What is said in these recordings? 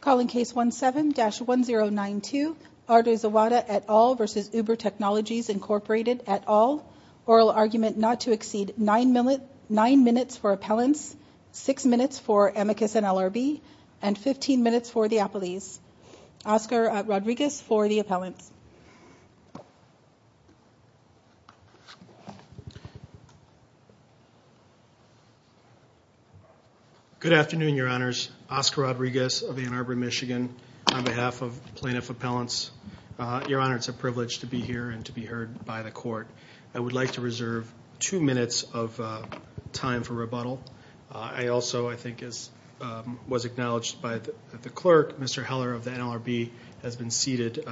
Calling case 17-1092, Artur Zawada et al. v. Uber Technologies Inc. et al. Oral argument not to exceed 9 minutes for appellants, 6 minutes for amicus and LRB, and 15 minutes for the appellees. Oscar Rodriguez for the appellants. Good afternoon, your honors. Oscar Rodriguez of Ann Arbor, Michigan, on behalf of plaintiff appellants. Your honor, it's a privilege to be here and to be heard by the court. I would like to reserve two minutes of time for rebuttal. I also, I think, was acknowledged by the clerk, Mr. Heller of the NLRB, has been seated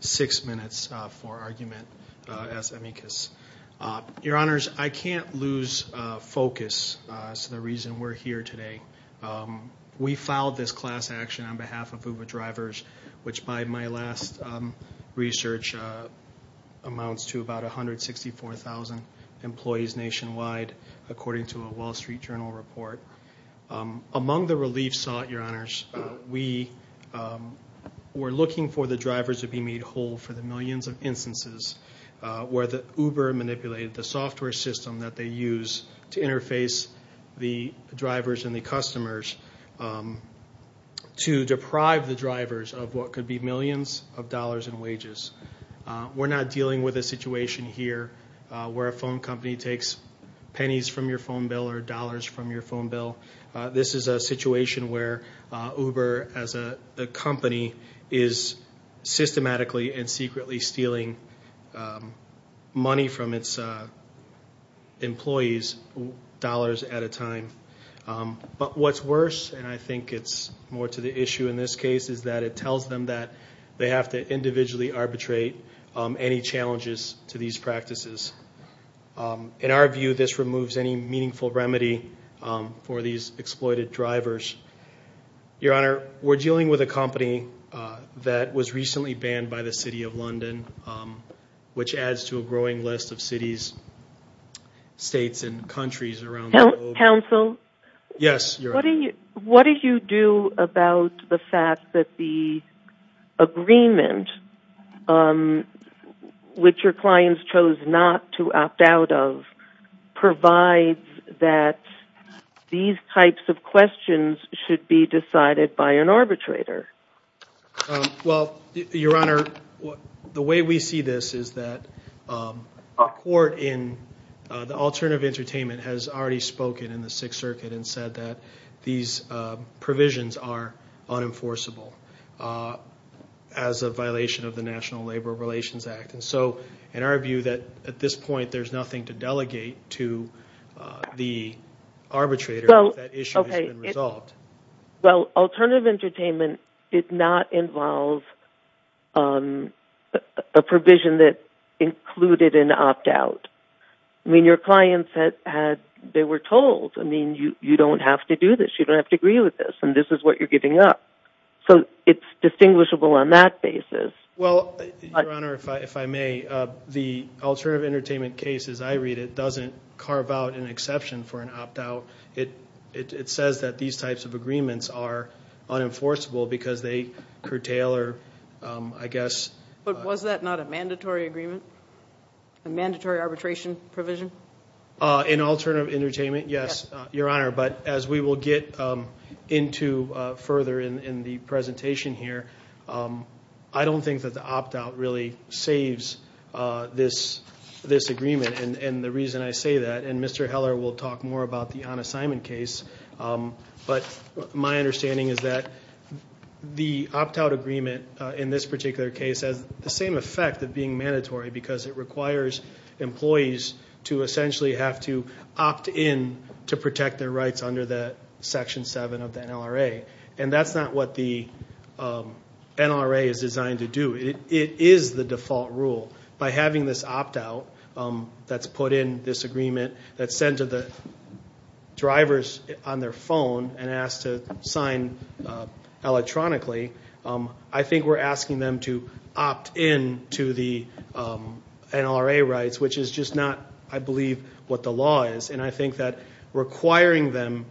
6 minutes for argument as amicus. Your honors, I can't lose focus as to the reason we're here today. We filed this class action on behalf of Uber Drivers, which by my last research, amounts to about 164,000 employees nationwide, according to a Wall Street Journal report. Among the relief sought, your honors, we were looking for the drivers to be made whole for the millions of instances where Uber manipulated the software system that they use to interface the drivers and the customers to deprive the drivers of what could be millions of dollars in wages. We're not dealing with a situation here where a phone company takes pennies from your phone bill or dollars from your phone bill. This is a situation where Uber, as a company, is systematically and secretly stealing money from its employees, dollars at a time. But what's worse, and I think it's more to the issue in this case, is that it tells them that they have to individually arbitrate any challenges to these practices. In our view, this removes any meaningful remedy for these exploited drivers. Your honor, we're dealing with a company that was recently banned by the City of London, which adds to a growing list of cities, states, and countries around the globe. Counsel? Yes, your honor. What do you do about the fact that the agreement, which your clients chose not to opt out of, provides that these types of questions should be decided by an arbitrator? Your honor, the way we see this is that the court in the Alternative Entertainment has already spoken in the Sixth Circuit and said that these provisions are unenforceable as a violation of the National Labor Relations Act. In our view, at this point, there's nothing to delegate to the arbitrator if that issue has been resolved. Well, Alternative Entertainment did not involve a provision that included an opt out. I mean, your clients were told, you don't have to do this, you don't have to agree with this, and this is what you're giving up. So it's distinguishable on that basis. Your honor, if I may, the Alternative Entertainment case, as I read it, doesn't carve out an exception for an opt out. So it says that these types of agreements are unenforceable because they curtail, I guess. But was that not a mandatory agreement, a mandatory arbitration provision? In Alternative Entertainment, yes, your honor. But as we will get into further in the presentation here, I don't think that the opt out really saves this agreement. And the reason I say that, and Mr. Heller will talk more about the Anna Simon case, but my understanding is that the opt out agreement in this particular case has the same effect of being mandatory because it requires employees to essentially have to opt in to protect their rights under that Section 7 of the NLRA. And that's not what the NLRA is designed to do. It is the default rule. By having this opt out that's put in this agreement that's sent to the drivers on their phone and asked to sign electronically, I think we're asking them to opt in to the NLRA rights, which is just not, I believe, what the law is. And I think that requiring them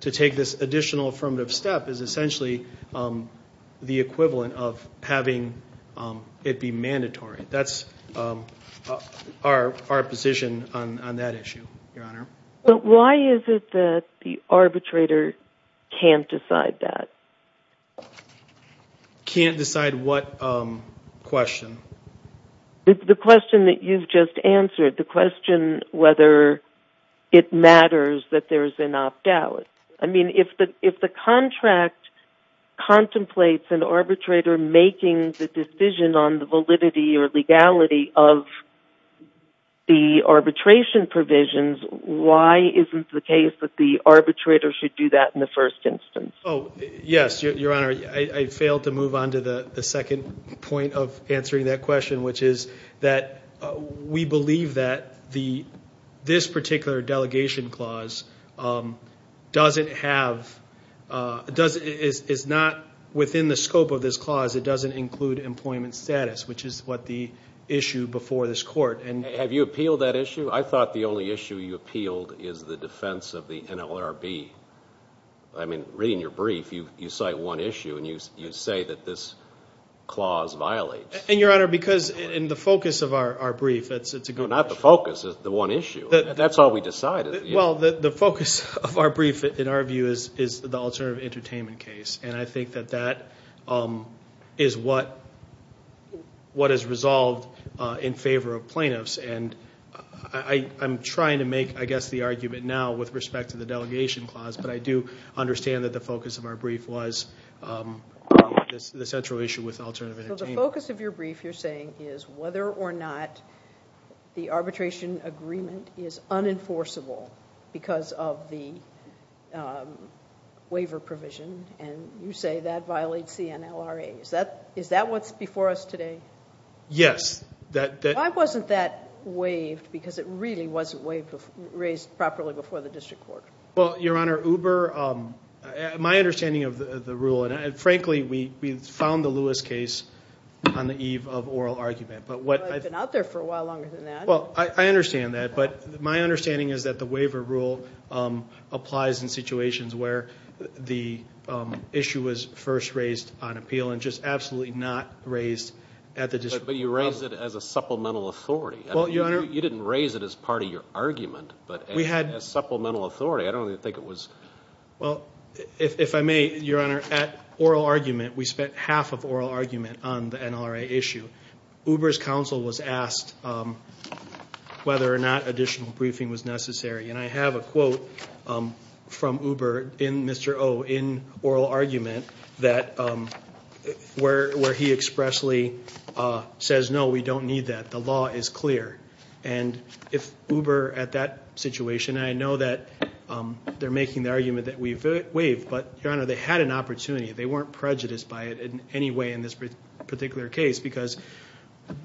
to take this additional affirmative step is essentially the equivalent of having it be mandatory. That's our position on that issue, your honor. But why is it that the arbitrator can't decide that? Can't decide what question? The question that you've just answered, the question whether it matters that there's an opt out. I mean, if the contract contemplates an arbitrator making the decision on the validity or legality of the arbitration provisions, why isn't the case that the arbitrator should do that in the first instance? Oh, yes, your honor. I failed to move on to the second point of answering that question, which is that we believe that this particular delegation clause is not within the scope of this clause. It doesn't include employment status, which is what the issue before this court. Have you appealed that issue? I thought the only issue you appealed is the defense of the NLRB. I mean, reading your brief, you cite one issue, and you say that this clause violates. And, your honor, because in the focus of our brief, it's a good question. No, not the focus. The one issue. That's all we decided. Well, the focus of our brief, in our view, is the alternative entertainment case. And I think that that is what is resolved in favor of plaintiffs. I'm trying to make, I guess, the argument now with respect to the delegation clause, but I do understand that the focus of our brief was the central issue with alternative entertainment. So the focus of your brief, you're saying, is whether or not the arbitration agreement is unenforceable because of the waiver provision, and you say that violates the NLRA. Is that what's before us today? Yes. Why wasn't that waived? Because it really wasn't raised properly before the district court. Well, your honor, Uber, my understanding of the rule, and frankly, we found the Lewis case on the eve of oral argument. I've been out there for a while longer than that. Well, I understand that, but my understanding is that the waiver rule applies in situations where the issue was first raised on appeal and just absolutely not raised at the district court. But you raised it as a supplemental authority. Well, your honor. You didn't raise it as part of your argument, but as supplemental authority. I don't even think it was. Well, if I may, your honor, at oral argument, we spent half of oral argument on the NLRA issue. Uber's counsel was asked whether or not additional briefing was necessary, and I have a quote from Uber in Mr. O in oral argument where he expressly says, no, we don't need that. The law is clear. And if Uber at that situation, and I know that they're making the argument that we've waived, but, your honor, they had an opportunity. They weren't prejudiced by it in any way in this particular case because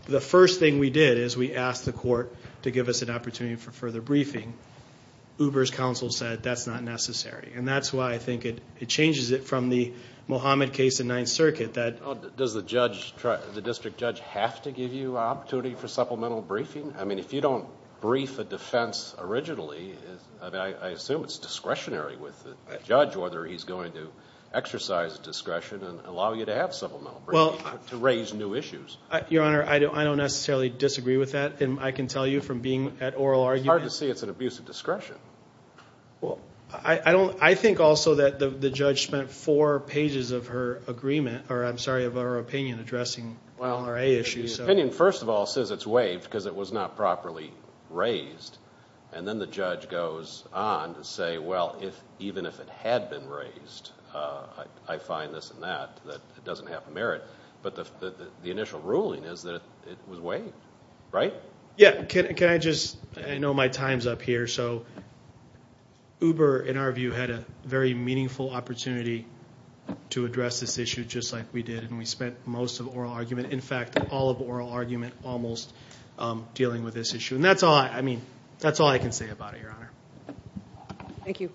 the first thing we did is we asked the court to give us an opportunity for further briefing. Uber's counsel said that's not necessary. And that's why I think it changes it from the Mohammed case in Ninth Circuit. Does the district judge have to give you an opportunity for supplemental briefing? I mean, if you don't brief a defense originally, I assume it's discretionary with the judge whether he's going to exercise discretion and allow you to have supplemental briefing to raise new issues. Your honor, I don't necessarily disagree with that. I can tell you from being at oral argument. It's hard to see it's an abuse of discretion. I think also that the judge spent four pages of her opinion addressing the LRA issue. Well, her opinion, first of all, says it's waived because it was not properly raised. And then the judge goes on to say, well, even if it had been raised, I find this and that, that it doesn't have merit. But the initial ruling is that it was waived, right? Yeah, can I just, I know my time's up here. So Uber, in our view, had a very meaningful opportunity to address this issue just like we did, and we spent most of oral argument, in fact, all of oral argument almost dealing with this issue. And that's all I can say about it, your honor. Thank you. Thank you.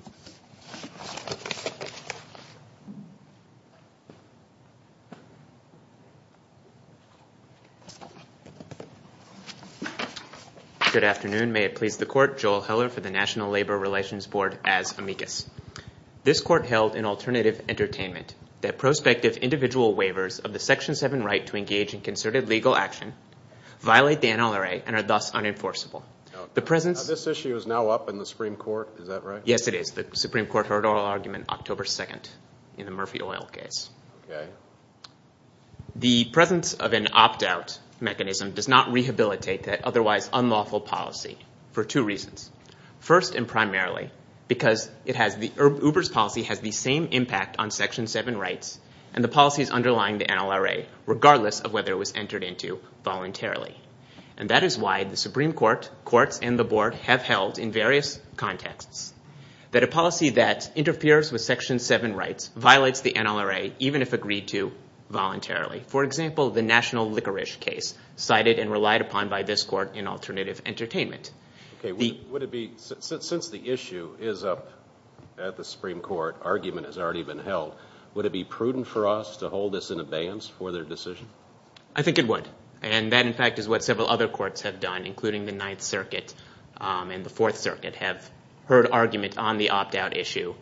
Good afternoon. May it please the court, Joel Heller for the National Labor Relations Board as amicus. This court held in alternative entertainment that prospective individual waivers of the Section 7 right to engage in concerted legal action violate the NLRA and are thus unenforceable. This issue is now up in the Supreme Court, is that right? Yes, it is. The Supreme Court heard oral argument October 2nd in the Murphy Oil case. The presence of an opt-out mechanism does not rehabilitate that otherwise unlawful policy for two reasons. First and primarily because Uber's policy has the same impact on Section 7 rights and the policies underlying the NLRA, regardless of whether it was entered into voluntarily. And that is why the Supreme Court, courts, and the board have held in various contexts that a policy that interferes with Section 7 rights violates the NLRA even if agreed to voluntarily. For example, the national licorice case cited and relied upon by this court in alternative entertainment. Since the issue is up at the Supreme Court, argument has already been held, would it be prudent for us to hold this in abeyance for their decision? I think it would. And that, in fact, is what several other courts have done, including the Ninth Circuit and the Fourth Circuit have heard argument on the opt-out issue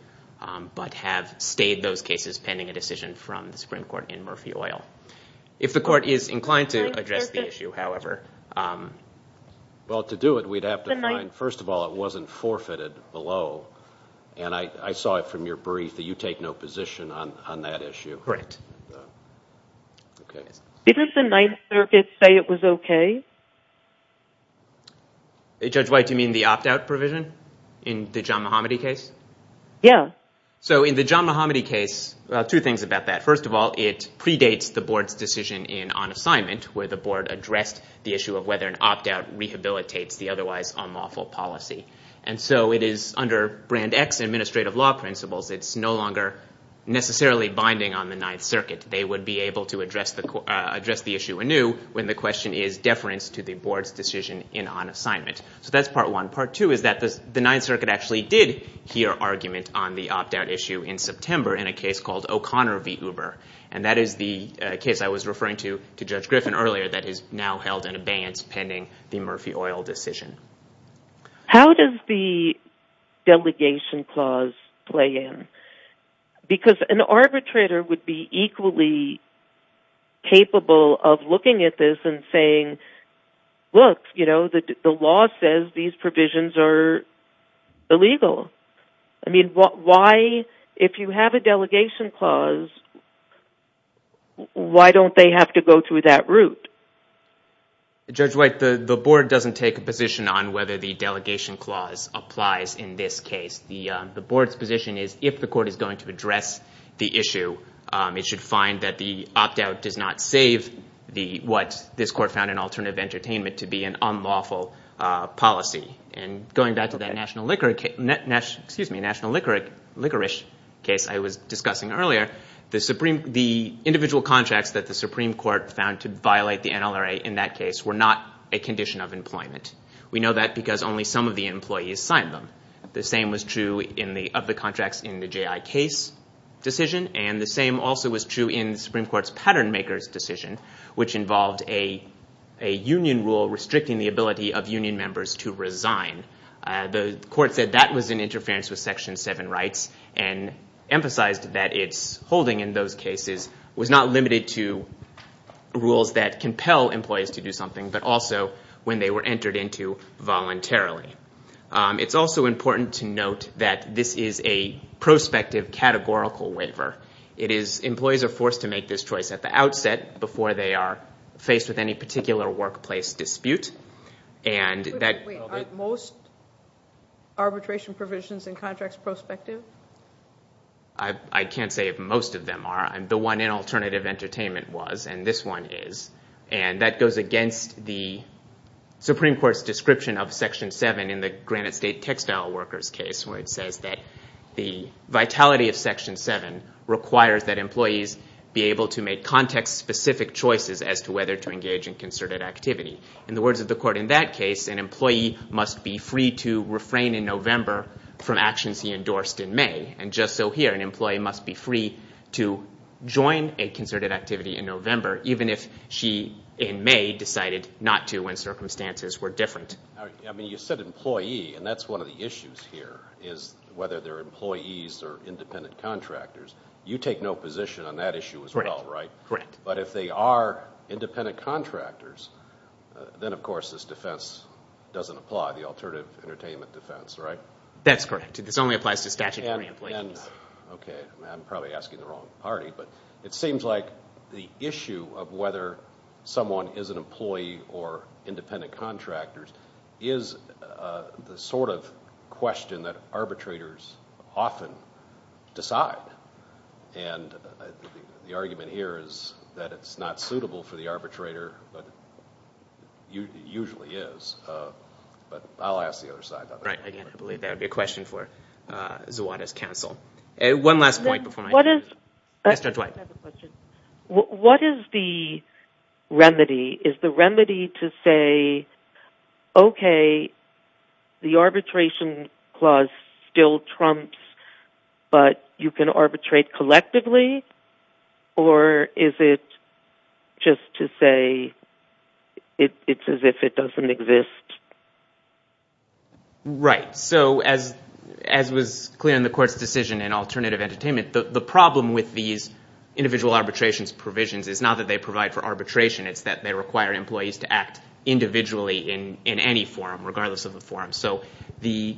but have stayed those cases pending a decision from the Supreme Court in Murphy Oil. If the court is inclined to address the issue, however... Well, to do it, we'd have to find, first of all, it wasn't forfeited below, and I saw it from your brief that you take no position on that issue. Correct. Okay. Didn't the Ninth Circuit say it was okay? Judge White, do you mean the opt-out provision in the John Mohamedy case? Yeah. So in the John Mohamedy case, two things about that. First of all, it predates the board's decision in on assignment where the board addressed the issue of whether an opt-out rehabilitates the otherwise unlawful policy. And so it is under Brand X administrative law principles. It's no longer necessarily binding on the Ninth Circuit. They would be able to address the issue anew when the question is deference to the board's decision in on assignment. So that's part one. Part two is that the Ninth Circuit actually did hear argument on the opt-out issue in September in a case called O'Connor v. Uber, and that is the case I was referring to to Judge Griffin earlier that is now held in abeyance pending the Murphy Oil decision. How does the delegation clause play in? Because an arbitrator would be equally capable of looking at this and saying, look, you know, the law says these provisions are illegal. I mean, why, if you have a delegation clause, why don't they have to go through that route? Judge White, the board doesn't take a position on whether the delegation clause applies in this case. The board's position is if the court is going to address the issue, it should find that the opt-out does not save what this court found in alternative entertainment to be an unlawful policy. And going back to that National Liquor case I was discussing earlier, the individual contracts that the Supreme Court found to violate the NLRA in that case were not a condition of employment. We know that because only some of the employees signed them. The same was true of the contracts in the J.I. Case decision, and the same also was true in the Supreme Court's Patternmakers decision, which involved a union rule restricting the ability of union members to resign. The court said that was in interference with Section 7 rights and emphasized that its holding in those cases was not limited to rules that compel employees to do something, but also when they were entered into voluntarily. It's also important to note that this is a prospective categorical waiver. Employees are forced to make this choice at the outset before they are faced with any particular workplace dispute. Are most arbitration provisions in contracts prospective? I can't say if most of them are. The one in alternative entertainment was, and this one is. That goes against the Supreme Court's description of Section 7 in the Granite State textile workers case where it says that the vitality of Section 7 requires that employees be able to make context-specific choices as to whether to engage in concerted activity. In the words of the court in that case, an employee must be free to refrain in November from actions he endorsed in May. And just so here, an employee must be free to join a concerted activity in November even if she in May decided not to when circumstances were different. You said employee, and that's one of the issues here is whether they're employees or independent contractors. You take no position on that issue as well, right? Correct. But if they are independent contractors, then of course this defense doesn't apply, the alternative entertainment defense, right? That's correct. This only applies to statutory employees. Okay. I'm probably asking the wrong party. But it seems like the issue of whether someone is an employee or independent contractor is the sort of question that arbitrators often decide. And the argument here is that it's not suitable for the arbitrator, but it usually is. But I'll ask the other side about that. Right. I believe that would be a question for Zawada's counsel. One last point before I finish. I have a question. What is the remedy? Is the remedy to say, okay, the arbitration clause still trumps, but you can arbitrate collectively? Or is it just to say it's as if it doesn't exist? Right. So as was clear in the court's decision in alternative entertainment, the problem with these individual arbitrations provisions is not that they provide for arbitration. It's that they require employees to act individually in any forum, regardless of the forum. So in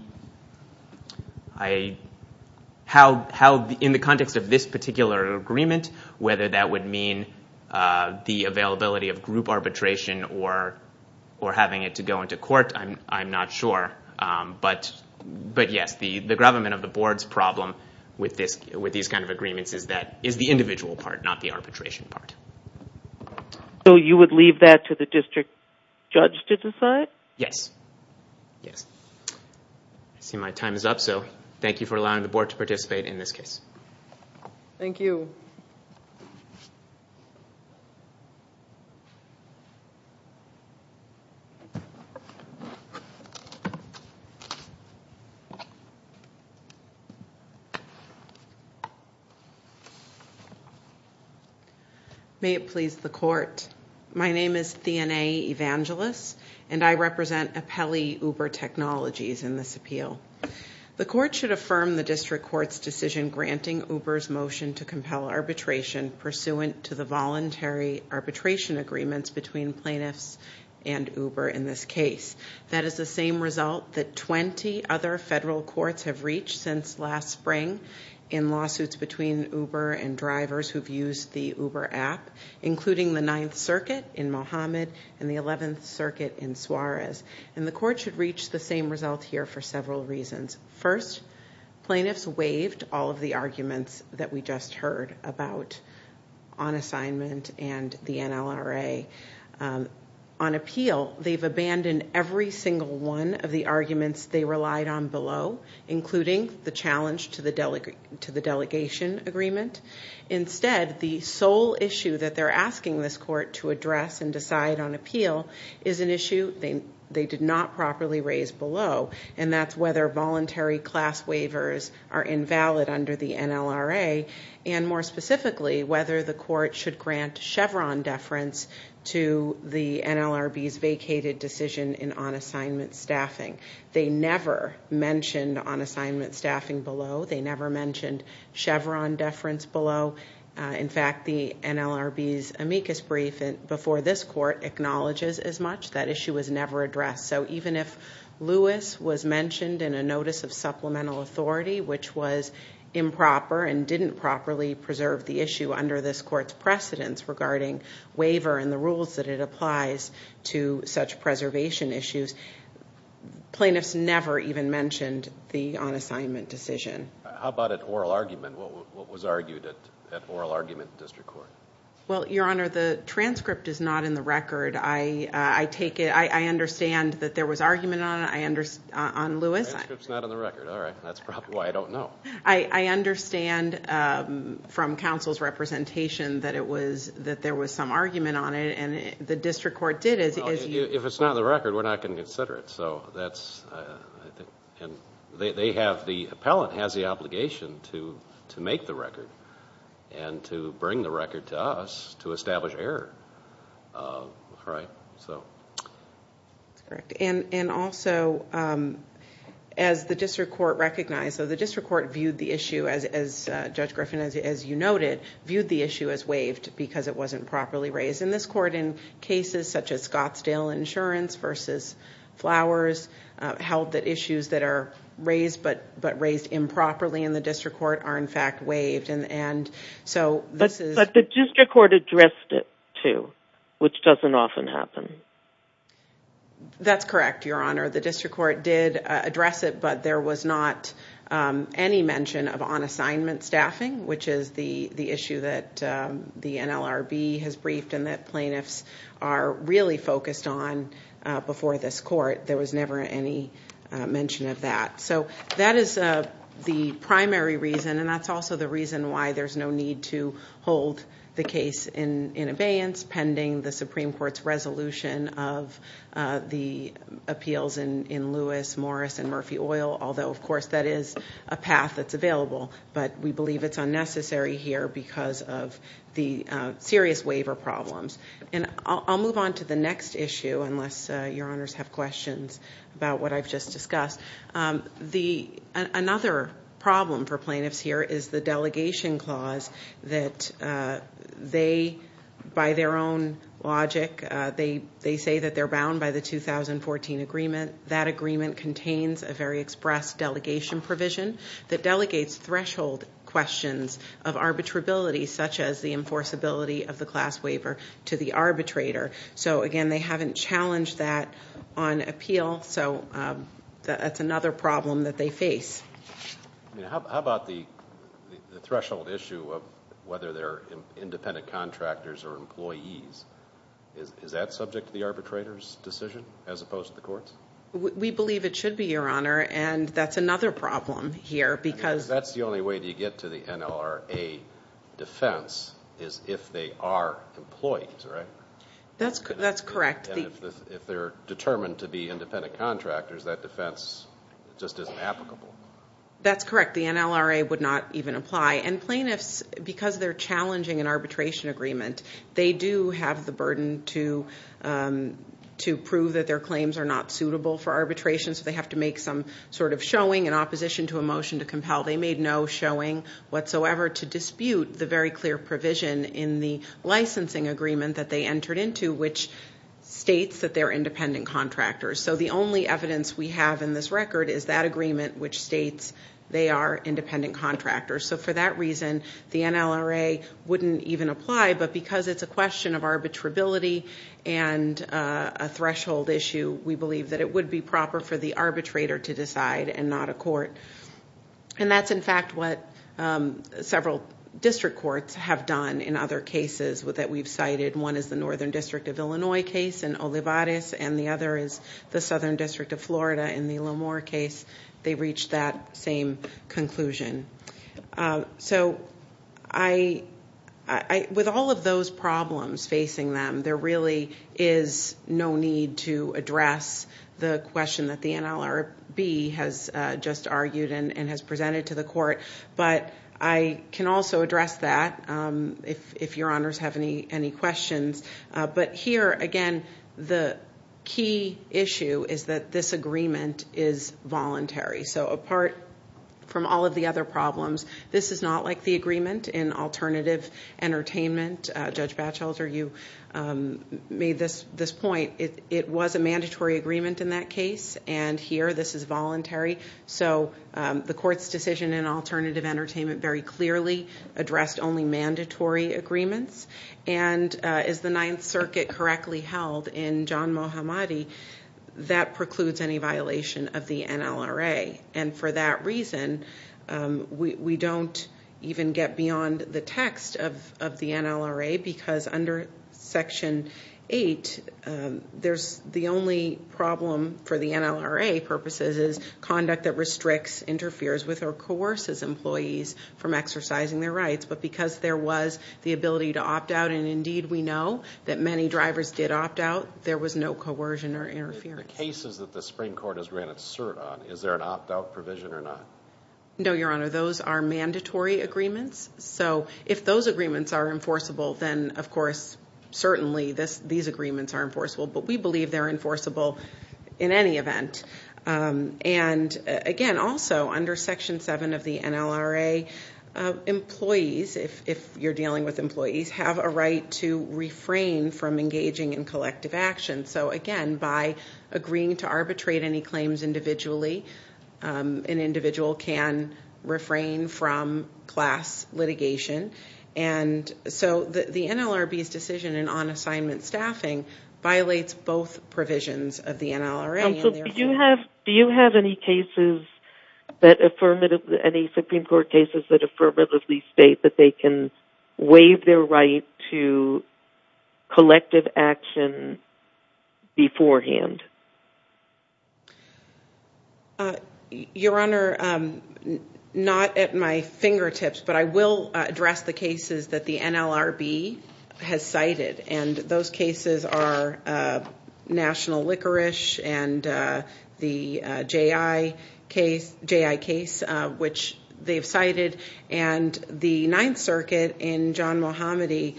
the context of this particular agreement, whether that would mean the availability of group arbitration or having it to go into court, I'm not sure. But yes, the government of the board's problem with these kind of agreements is the individual part, not the arbitration part. So you would leave that to the district judge to decide? Yes. Yes. I see my time is up, so thank you for allowing the board to participate in this case. Thank you. May it please the court. My name is Theana Evangelos, and I represent Apelli Uber Technologies in this appeal. The court should affirm the district court's decision granting Uber's motion to compel arbitration pursuant to the voluntary arbitration agreements between plaintiffs and Uber in this case. That is the same result that 20 other federal courts have reached since last spring in lawsuits between Uber and drivers who've used the Uber app, including the Ninth Circuit in Mohammed and the Eleventh Circuit in Suarez. And the court should reach the same result here for several reasons. First, plaintiffs waived all of the arguments that we just heard about on assignment and the NLRA. On appeal, they've abandoned every single one of the arguments they relied on below, including the challenge to the delegation agreement. Instead, the sole issue that they're asking this court to address and decide on appeal is an issue they did not properly raise below, and that's whether voluntary class waivers are invalid under the NLRA, and more specifically, whether the court should grant Chevron deference to the NLRB's vacated decision in on-assignment staffing. They never mentioned on-assignment staffing below. They never mentioned Chevron deference below. In fact, the NLRB's amicus brief before this court acknowledges as much. That issue was never addressed. So even if Lewis was mentioned in a notice of supplemental authority, which was improper and didn't properly preserve the issue under this court's precedence regarding waiver and the rules that it applies to such preservation issues, plaintiffs never even mentioned the on-assignment decision. How about at oral argument? What was argued at oral argument in district court? Well, Your Honor, the transcript is not in the record. I understand that there was argument on Lewis. The transcript's not in the record. All right. That's probably why I don't know. I understand from counsel's representation that there was some argument on it, and the district court did as you... If it's not in the record, we're not going to consider it. The appellant has the obligation to make the record and to bring the record to us to establish error. All right. That's correct. And also, as the district court recognized, so the district court viewed the issue, as Judge Griffin, as you noted, viewed the issue as waived because it wasn't properly raised. In this court, in cases such as Scottsdale Insurance versus Flowers, held that issues that are raised but raised improperly in the district court are, in fact, waived. But the district court addressed it too, which doesn't often happen. That's correct, Your Honor. The district court did address it, but there was not any mention of on-assignment staffing, which is the issue that the NLRB has briefed and that plaintiffs are really focused on before this court. There was never any mention of that. So that is the primary reason, and that's also the reason why there's no need to hold the case in abeyance pending the Supreme Court's resolution of the appeals in Lewis, Morris, and Murphy Oil, although, of course, that is a path that's available. But we believe it's unnecessary here because of the serious waiver problems. And I'll move on to the next issue, unless Your Honors have questions about what I've just discussed. Another problem for plaintiffs here is the delegation clause that they, by their own logic, they say that they're bound by the 2014 agreement. That agreement contains a very express delegation provision that delegates threshold questions of arbitrability, such as the enforceability of the class waiver to the arbitrator. So, again, they haven't challenged that on appeal. So that's another problem that they face. How about the threshold issue of whether they're independent contractors or employees? Is that subject to the arbitrator's decision as opposed to the court's? We believe it should be, Your Honor, and that's another problem here because— That's the only way to get to the NLRA defense is if they are employees, right? That's correct. And if they're determined to be independent contractors, that defense just isn't applicable. That's correct. The NLRA would not even apply. And plaintiffs, because they're challenging an arbitration agreement, they do have the burden to prove that their claims are not suitable for arbitration, so they have to make some sort of showing in opposition to a motion to compel. They made no showing whatsoever to dispute the very clear provision in the licensing agreement that they entered into which states that they're independent contractors. So the only evidence we have in this record is that agreement which states they are independent contractors. So for that reason, the NLRA wouldn't even apply, but because it's a question of arbitrability and a threshold issue, we believe that it would be proper for the arbitrator to decide and not a court. And that's, in fact, what several district courts have done in other cases that we've cited and one is the Northern District of Illinois case in Olivares and the other is the Southern District of Florida in the Lamour case. They reached that same conclusion. So with all of those problems facing them, there really is no need to address the question that the NLRB has just argued and has presented to the court, but I can also address that if your honors have any questions. But here, again, the key issue is that this agreement is voluntary. So apart from all of the other problems, this is not like the agreement in alternative entertainment. Judge Batchelder, you made this point. It was a mandatory agreement in that case, and here this is voluntary. So the court's decision in alternative entertainment very clearly addressed only mandatory agreements. And as the Ninth Circuit correctly held in John Mohammadi, that precludes any violation of the NLRA. And for that reason, we don't even get beyond the text of the NLRA because under Section 8, the only problem for the NLRA purposes is conduct that restricts, interferes with, or coerces employees from exercising their rights. But because there was the ability to opt out, and indeed we know that many drivers did opt out, there was no coercion or interference. The cases that the Supreme Court has granted cert on, is there an opt-out provision or not? No, your honor, those are mandatory agreements. So if those agreements are enforceable, then of course certainly these agreements are enforceable. But we believe they're enforceable in any event. And again, also under Section 7 of the NLRA, employees, if you're dealing with employees, have a right to refrain from engaging in collective action. So again, by agreeing to arbitrate any claims individually, an individual can refrain from class litigation. And so the NLRB's decision in on-assignment staffing violates both provisions of the NLRA. Do you have any cases that affirmatively, any Supreme Court cases that affirmatively state that they can waive their right to collective action beforehand? Your honor, not at my fingertips, but I will address the cases that the NLRB has cited. And those cases are national licorice and the J.I. case, which they've cited. And the Ninth Circuit in John Mohamedy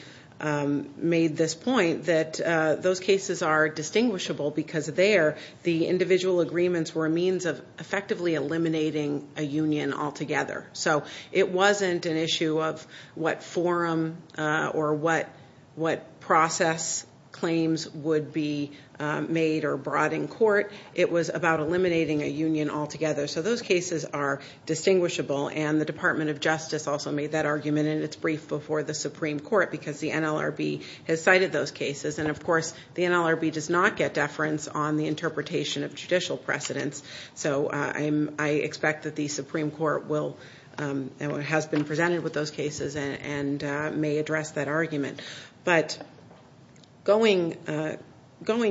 made this point that those cases are distinguishable because there the individual agreements were a means of effectively eliminating a union altogether. So it wasn't an issue of what forum or what process claims would be made or brought in court. It was about eliminating a union altogether. So those cases are distinguishable. And the Department of Justice also made that argument in its brief before the Supreme Court because the NLRB has cited those cases. And, of course, the NLRB does not get deference on the interpretation of judicial precedence. So I expect that the Supreme Court has been presented with those cases and may address that argument. But going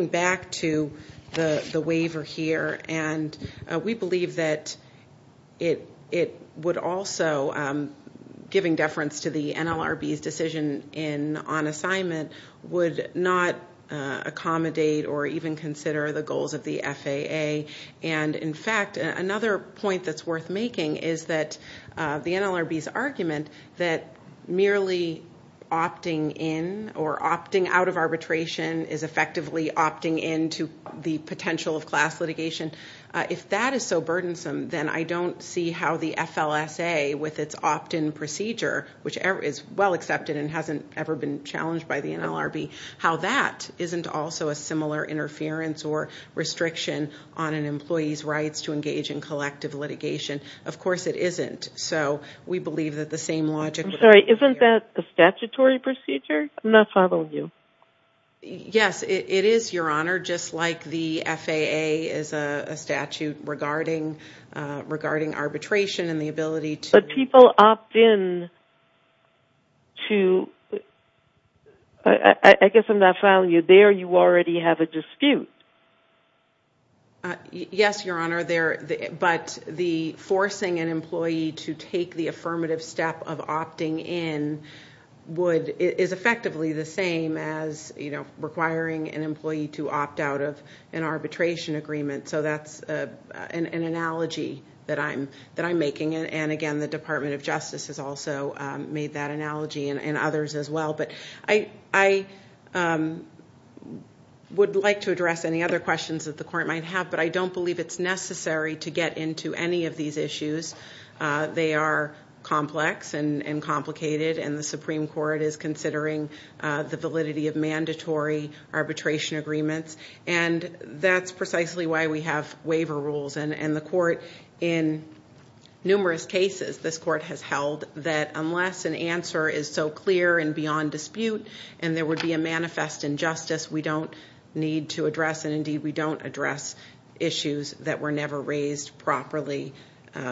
back to the waiver here, and we believe that it would also, giving deference to the NLRB's decision on assignment, would not accommodate or even consider the goals of the FAA. And, in fact, another point that's worth making is that the NLRB's argument that merely opting in or opting out of arbitration is effectively opting in to the potential of class litigation, if that is so burdensome, then I don't see how the FLSA, with its opt-in procedure, which is well accepted and hasn't ever been challenged by the NLRB, how that isn't also a similar interference or restriction on an employee's rights to engage in collective litigation. Of course it isn't. So we believe that the same logic would apply here. I'm sorry. Isn't that a statutory procedure? I'm not following you. Yes, it is, Your Honor, just like the FAA is a statute regarding arbitration and the ability to – But people opt in to – I guess I'm not following you. There you already have a dispute. Yes, Your Honor, but the forcing an employee to take the affirmative step of opting in is effectively the same as requiring an employee to opt out of an arbitration agreement. So that's an analogy that I'm making, and, again, the Department of Justice has also made that analogy and others as well. But I would like to address any other questions that the Court might have, but I don't believe it's necessary to get into any of these issues. They are complex and complicated, and the Supreme Court is considering the validity of mandatory arbitration agreements, and that's precisely why we have waiver rules. And the Court, in numerous cases, this Court has held that unless an answer is so clear and beyond dispute and there would be a manifest injustice, we don't need to address, and, indeed, we don't address issues that were never raised properly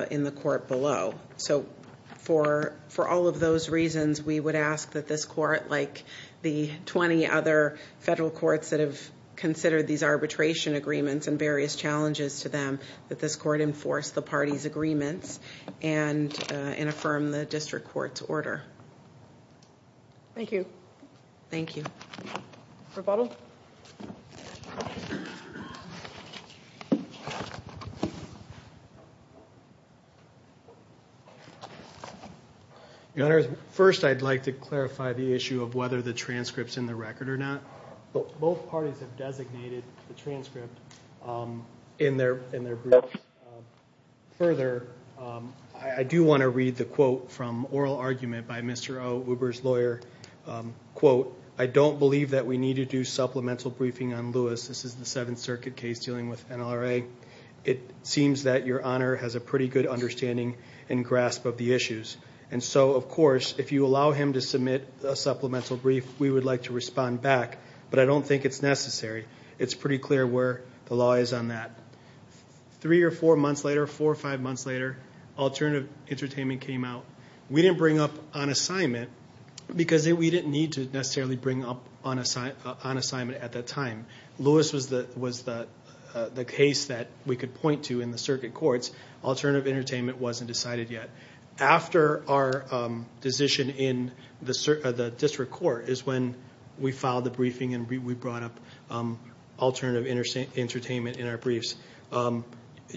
in the Court below. So for all of those reasons, we would ask that this Court, like the 20 other federal courts that have considered these arbitration agreements and various challenges to them, that this Court enforce the parties' agreements and affirm the district court's order. Thank you. Thank you. Profoto? Your Honor, first I'd like to clarify the issue of whether the transcript's in the record or not. Both parties have designated the transcript in their briefs. Further, I do want to read the quote from oral argument by Mr. Ouber's lawyer. Quote, I don't believe that we need to do supplemental briefing on Lewis. This is the Seventh Circuit case dealing with NLRA. It seems that Your Honor has a pretty good understanding and grasp of the issues. And so, of course, if you allow him to submit a supplemental brief, we would like to respond back, but I don't think it's necessary. It's pretty clear where the law is on that. Three or four months later, four or five months later, alternative entertainment came out. We didn't bring up on assignment because we didn't need to necessarily bring up on assignment at that time. Lewis was the case that we could point to in the circuit courts. Alternative entertainment wasn't decided yet. After our decision in the district court is when we filed the briefing and we brought up alternative entertainment in our briefs.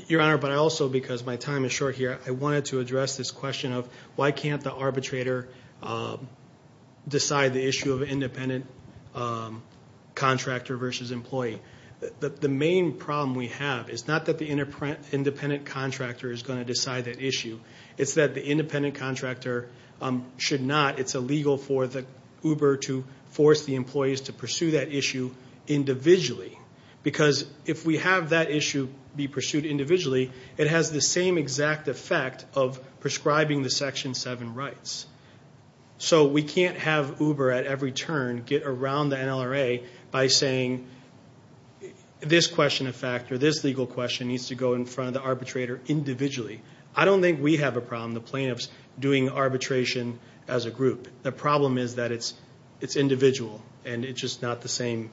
Your Honor, but I also, because my time is short here, I wanted to address this question of why can't the arbitrator decide the issue of independent contractor versus employee. The main problem we have is not that the independent contractor is going to decide that issue. It's that the independent contractor should not. It's illegal for the Ouber to force the employees to pursue that issue individually because if we have that issue be pursued individually, it has the same exact effect of prescribing the Section 7 rights. So we can't have Ouber at every turn get around the NLRA by saying this question of fact or this legal question needs to go in front of the arbitrator individually. I don't think we have a problem, the plaintiffs, doing arbitration as a group. The problem is that it's individual and it's just not the same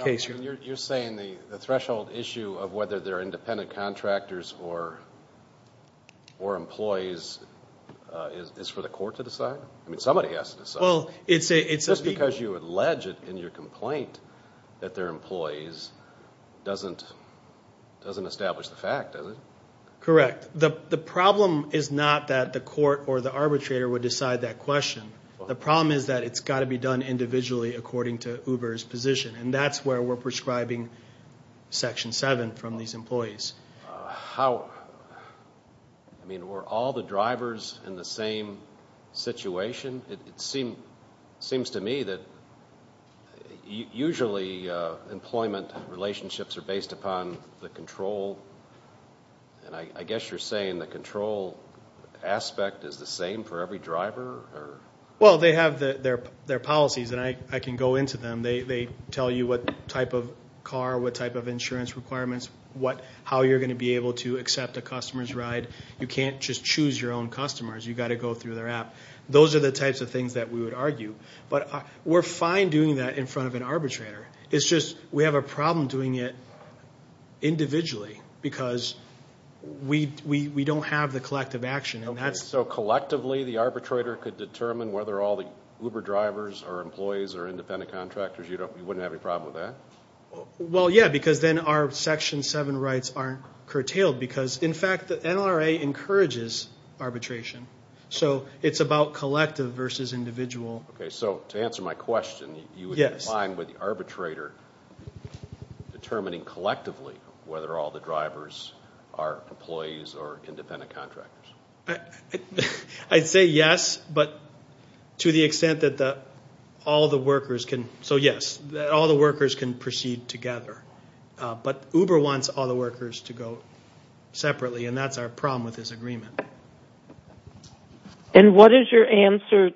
case. You're saying the threshold issue of whether they're independent contractors or employees is for the court to decide? Somebody has to decide. Just because you allege it in your complaint that they're employees doesn't establish the fact, does it? Correct. The problem is not that the court or the arbitrator would decide that question. The problem is that it's got to be done individually according to Ouber's position, and that's where we're prescribing Section 7 from these employees. How? I mean, were all the drivers in the same situation? It seems to me that usually employment relationships are based upon the control, and I guess you're saying the control aspect is the same for every driver? Well, they have their policies, and I can go into them. They tell you what type of car, what type of insurance requirements, how you're going to be able to accept a customer's ride. You can't just choose your own customers. You've got to go through their app. Those are the types of things that we would argue. But we're fine doing that in front of an arbitrator. It's just we have a problem doing it individually because we don't have the collective action. So collectively the arbitrator could determine whether all the Uber drivers or employees are independent contractors? You wouldn't have any problem with that? Well, yeah, because then our Section 7 rights aren't curtailed because, in fact, the NRA encourages arbitration. So it's about collective versus individual. Okay, so to answer my question, you would be fine with the arbitrator determining collectively whether all the drivers are employees or independent contractors? I'd say yes, but to the extent that all the workers can proceed together. But Uber wants all the workers to go separately, and that's our problem with this agreement. And what is your answer,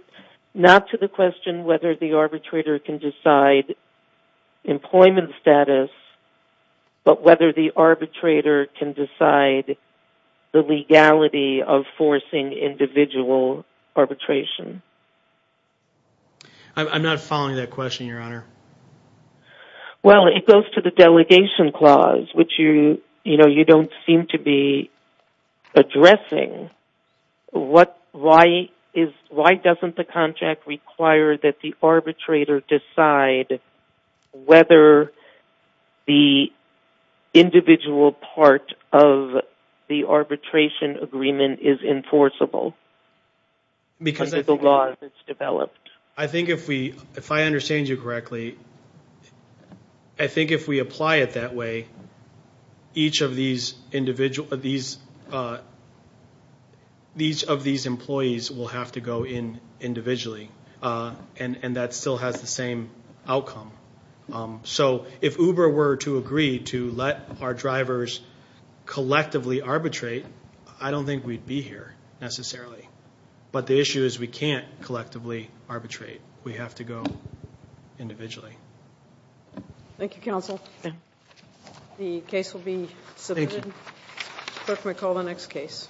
not to the question whether the arbitrator can decide employment status, but whether the arbitrator can decide the legality of forcing individual arbitration? I'm not following that question, Your Honor. Well, it goes to the delegation clause, which you don't seem to be addressing. Why doesn't the contract require that the arbitrator decide whether the individual part of the arbitration agreement is enforceable under the law that's developed? I think if I understand you correctly, I think if we apply it that way, each of these employees will have to go in individually, and that still has the same outcome. So if Uber were to agree to let our drivers collectively arbitrate, I don't think we'd be here necessarily. But the issue is we can't collectively arbitrate. We have to go individually. Thank you, counsel. The case will be submitted. Thank you. Clerk may call the next case.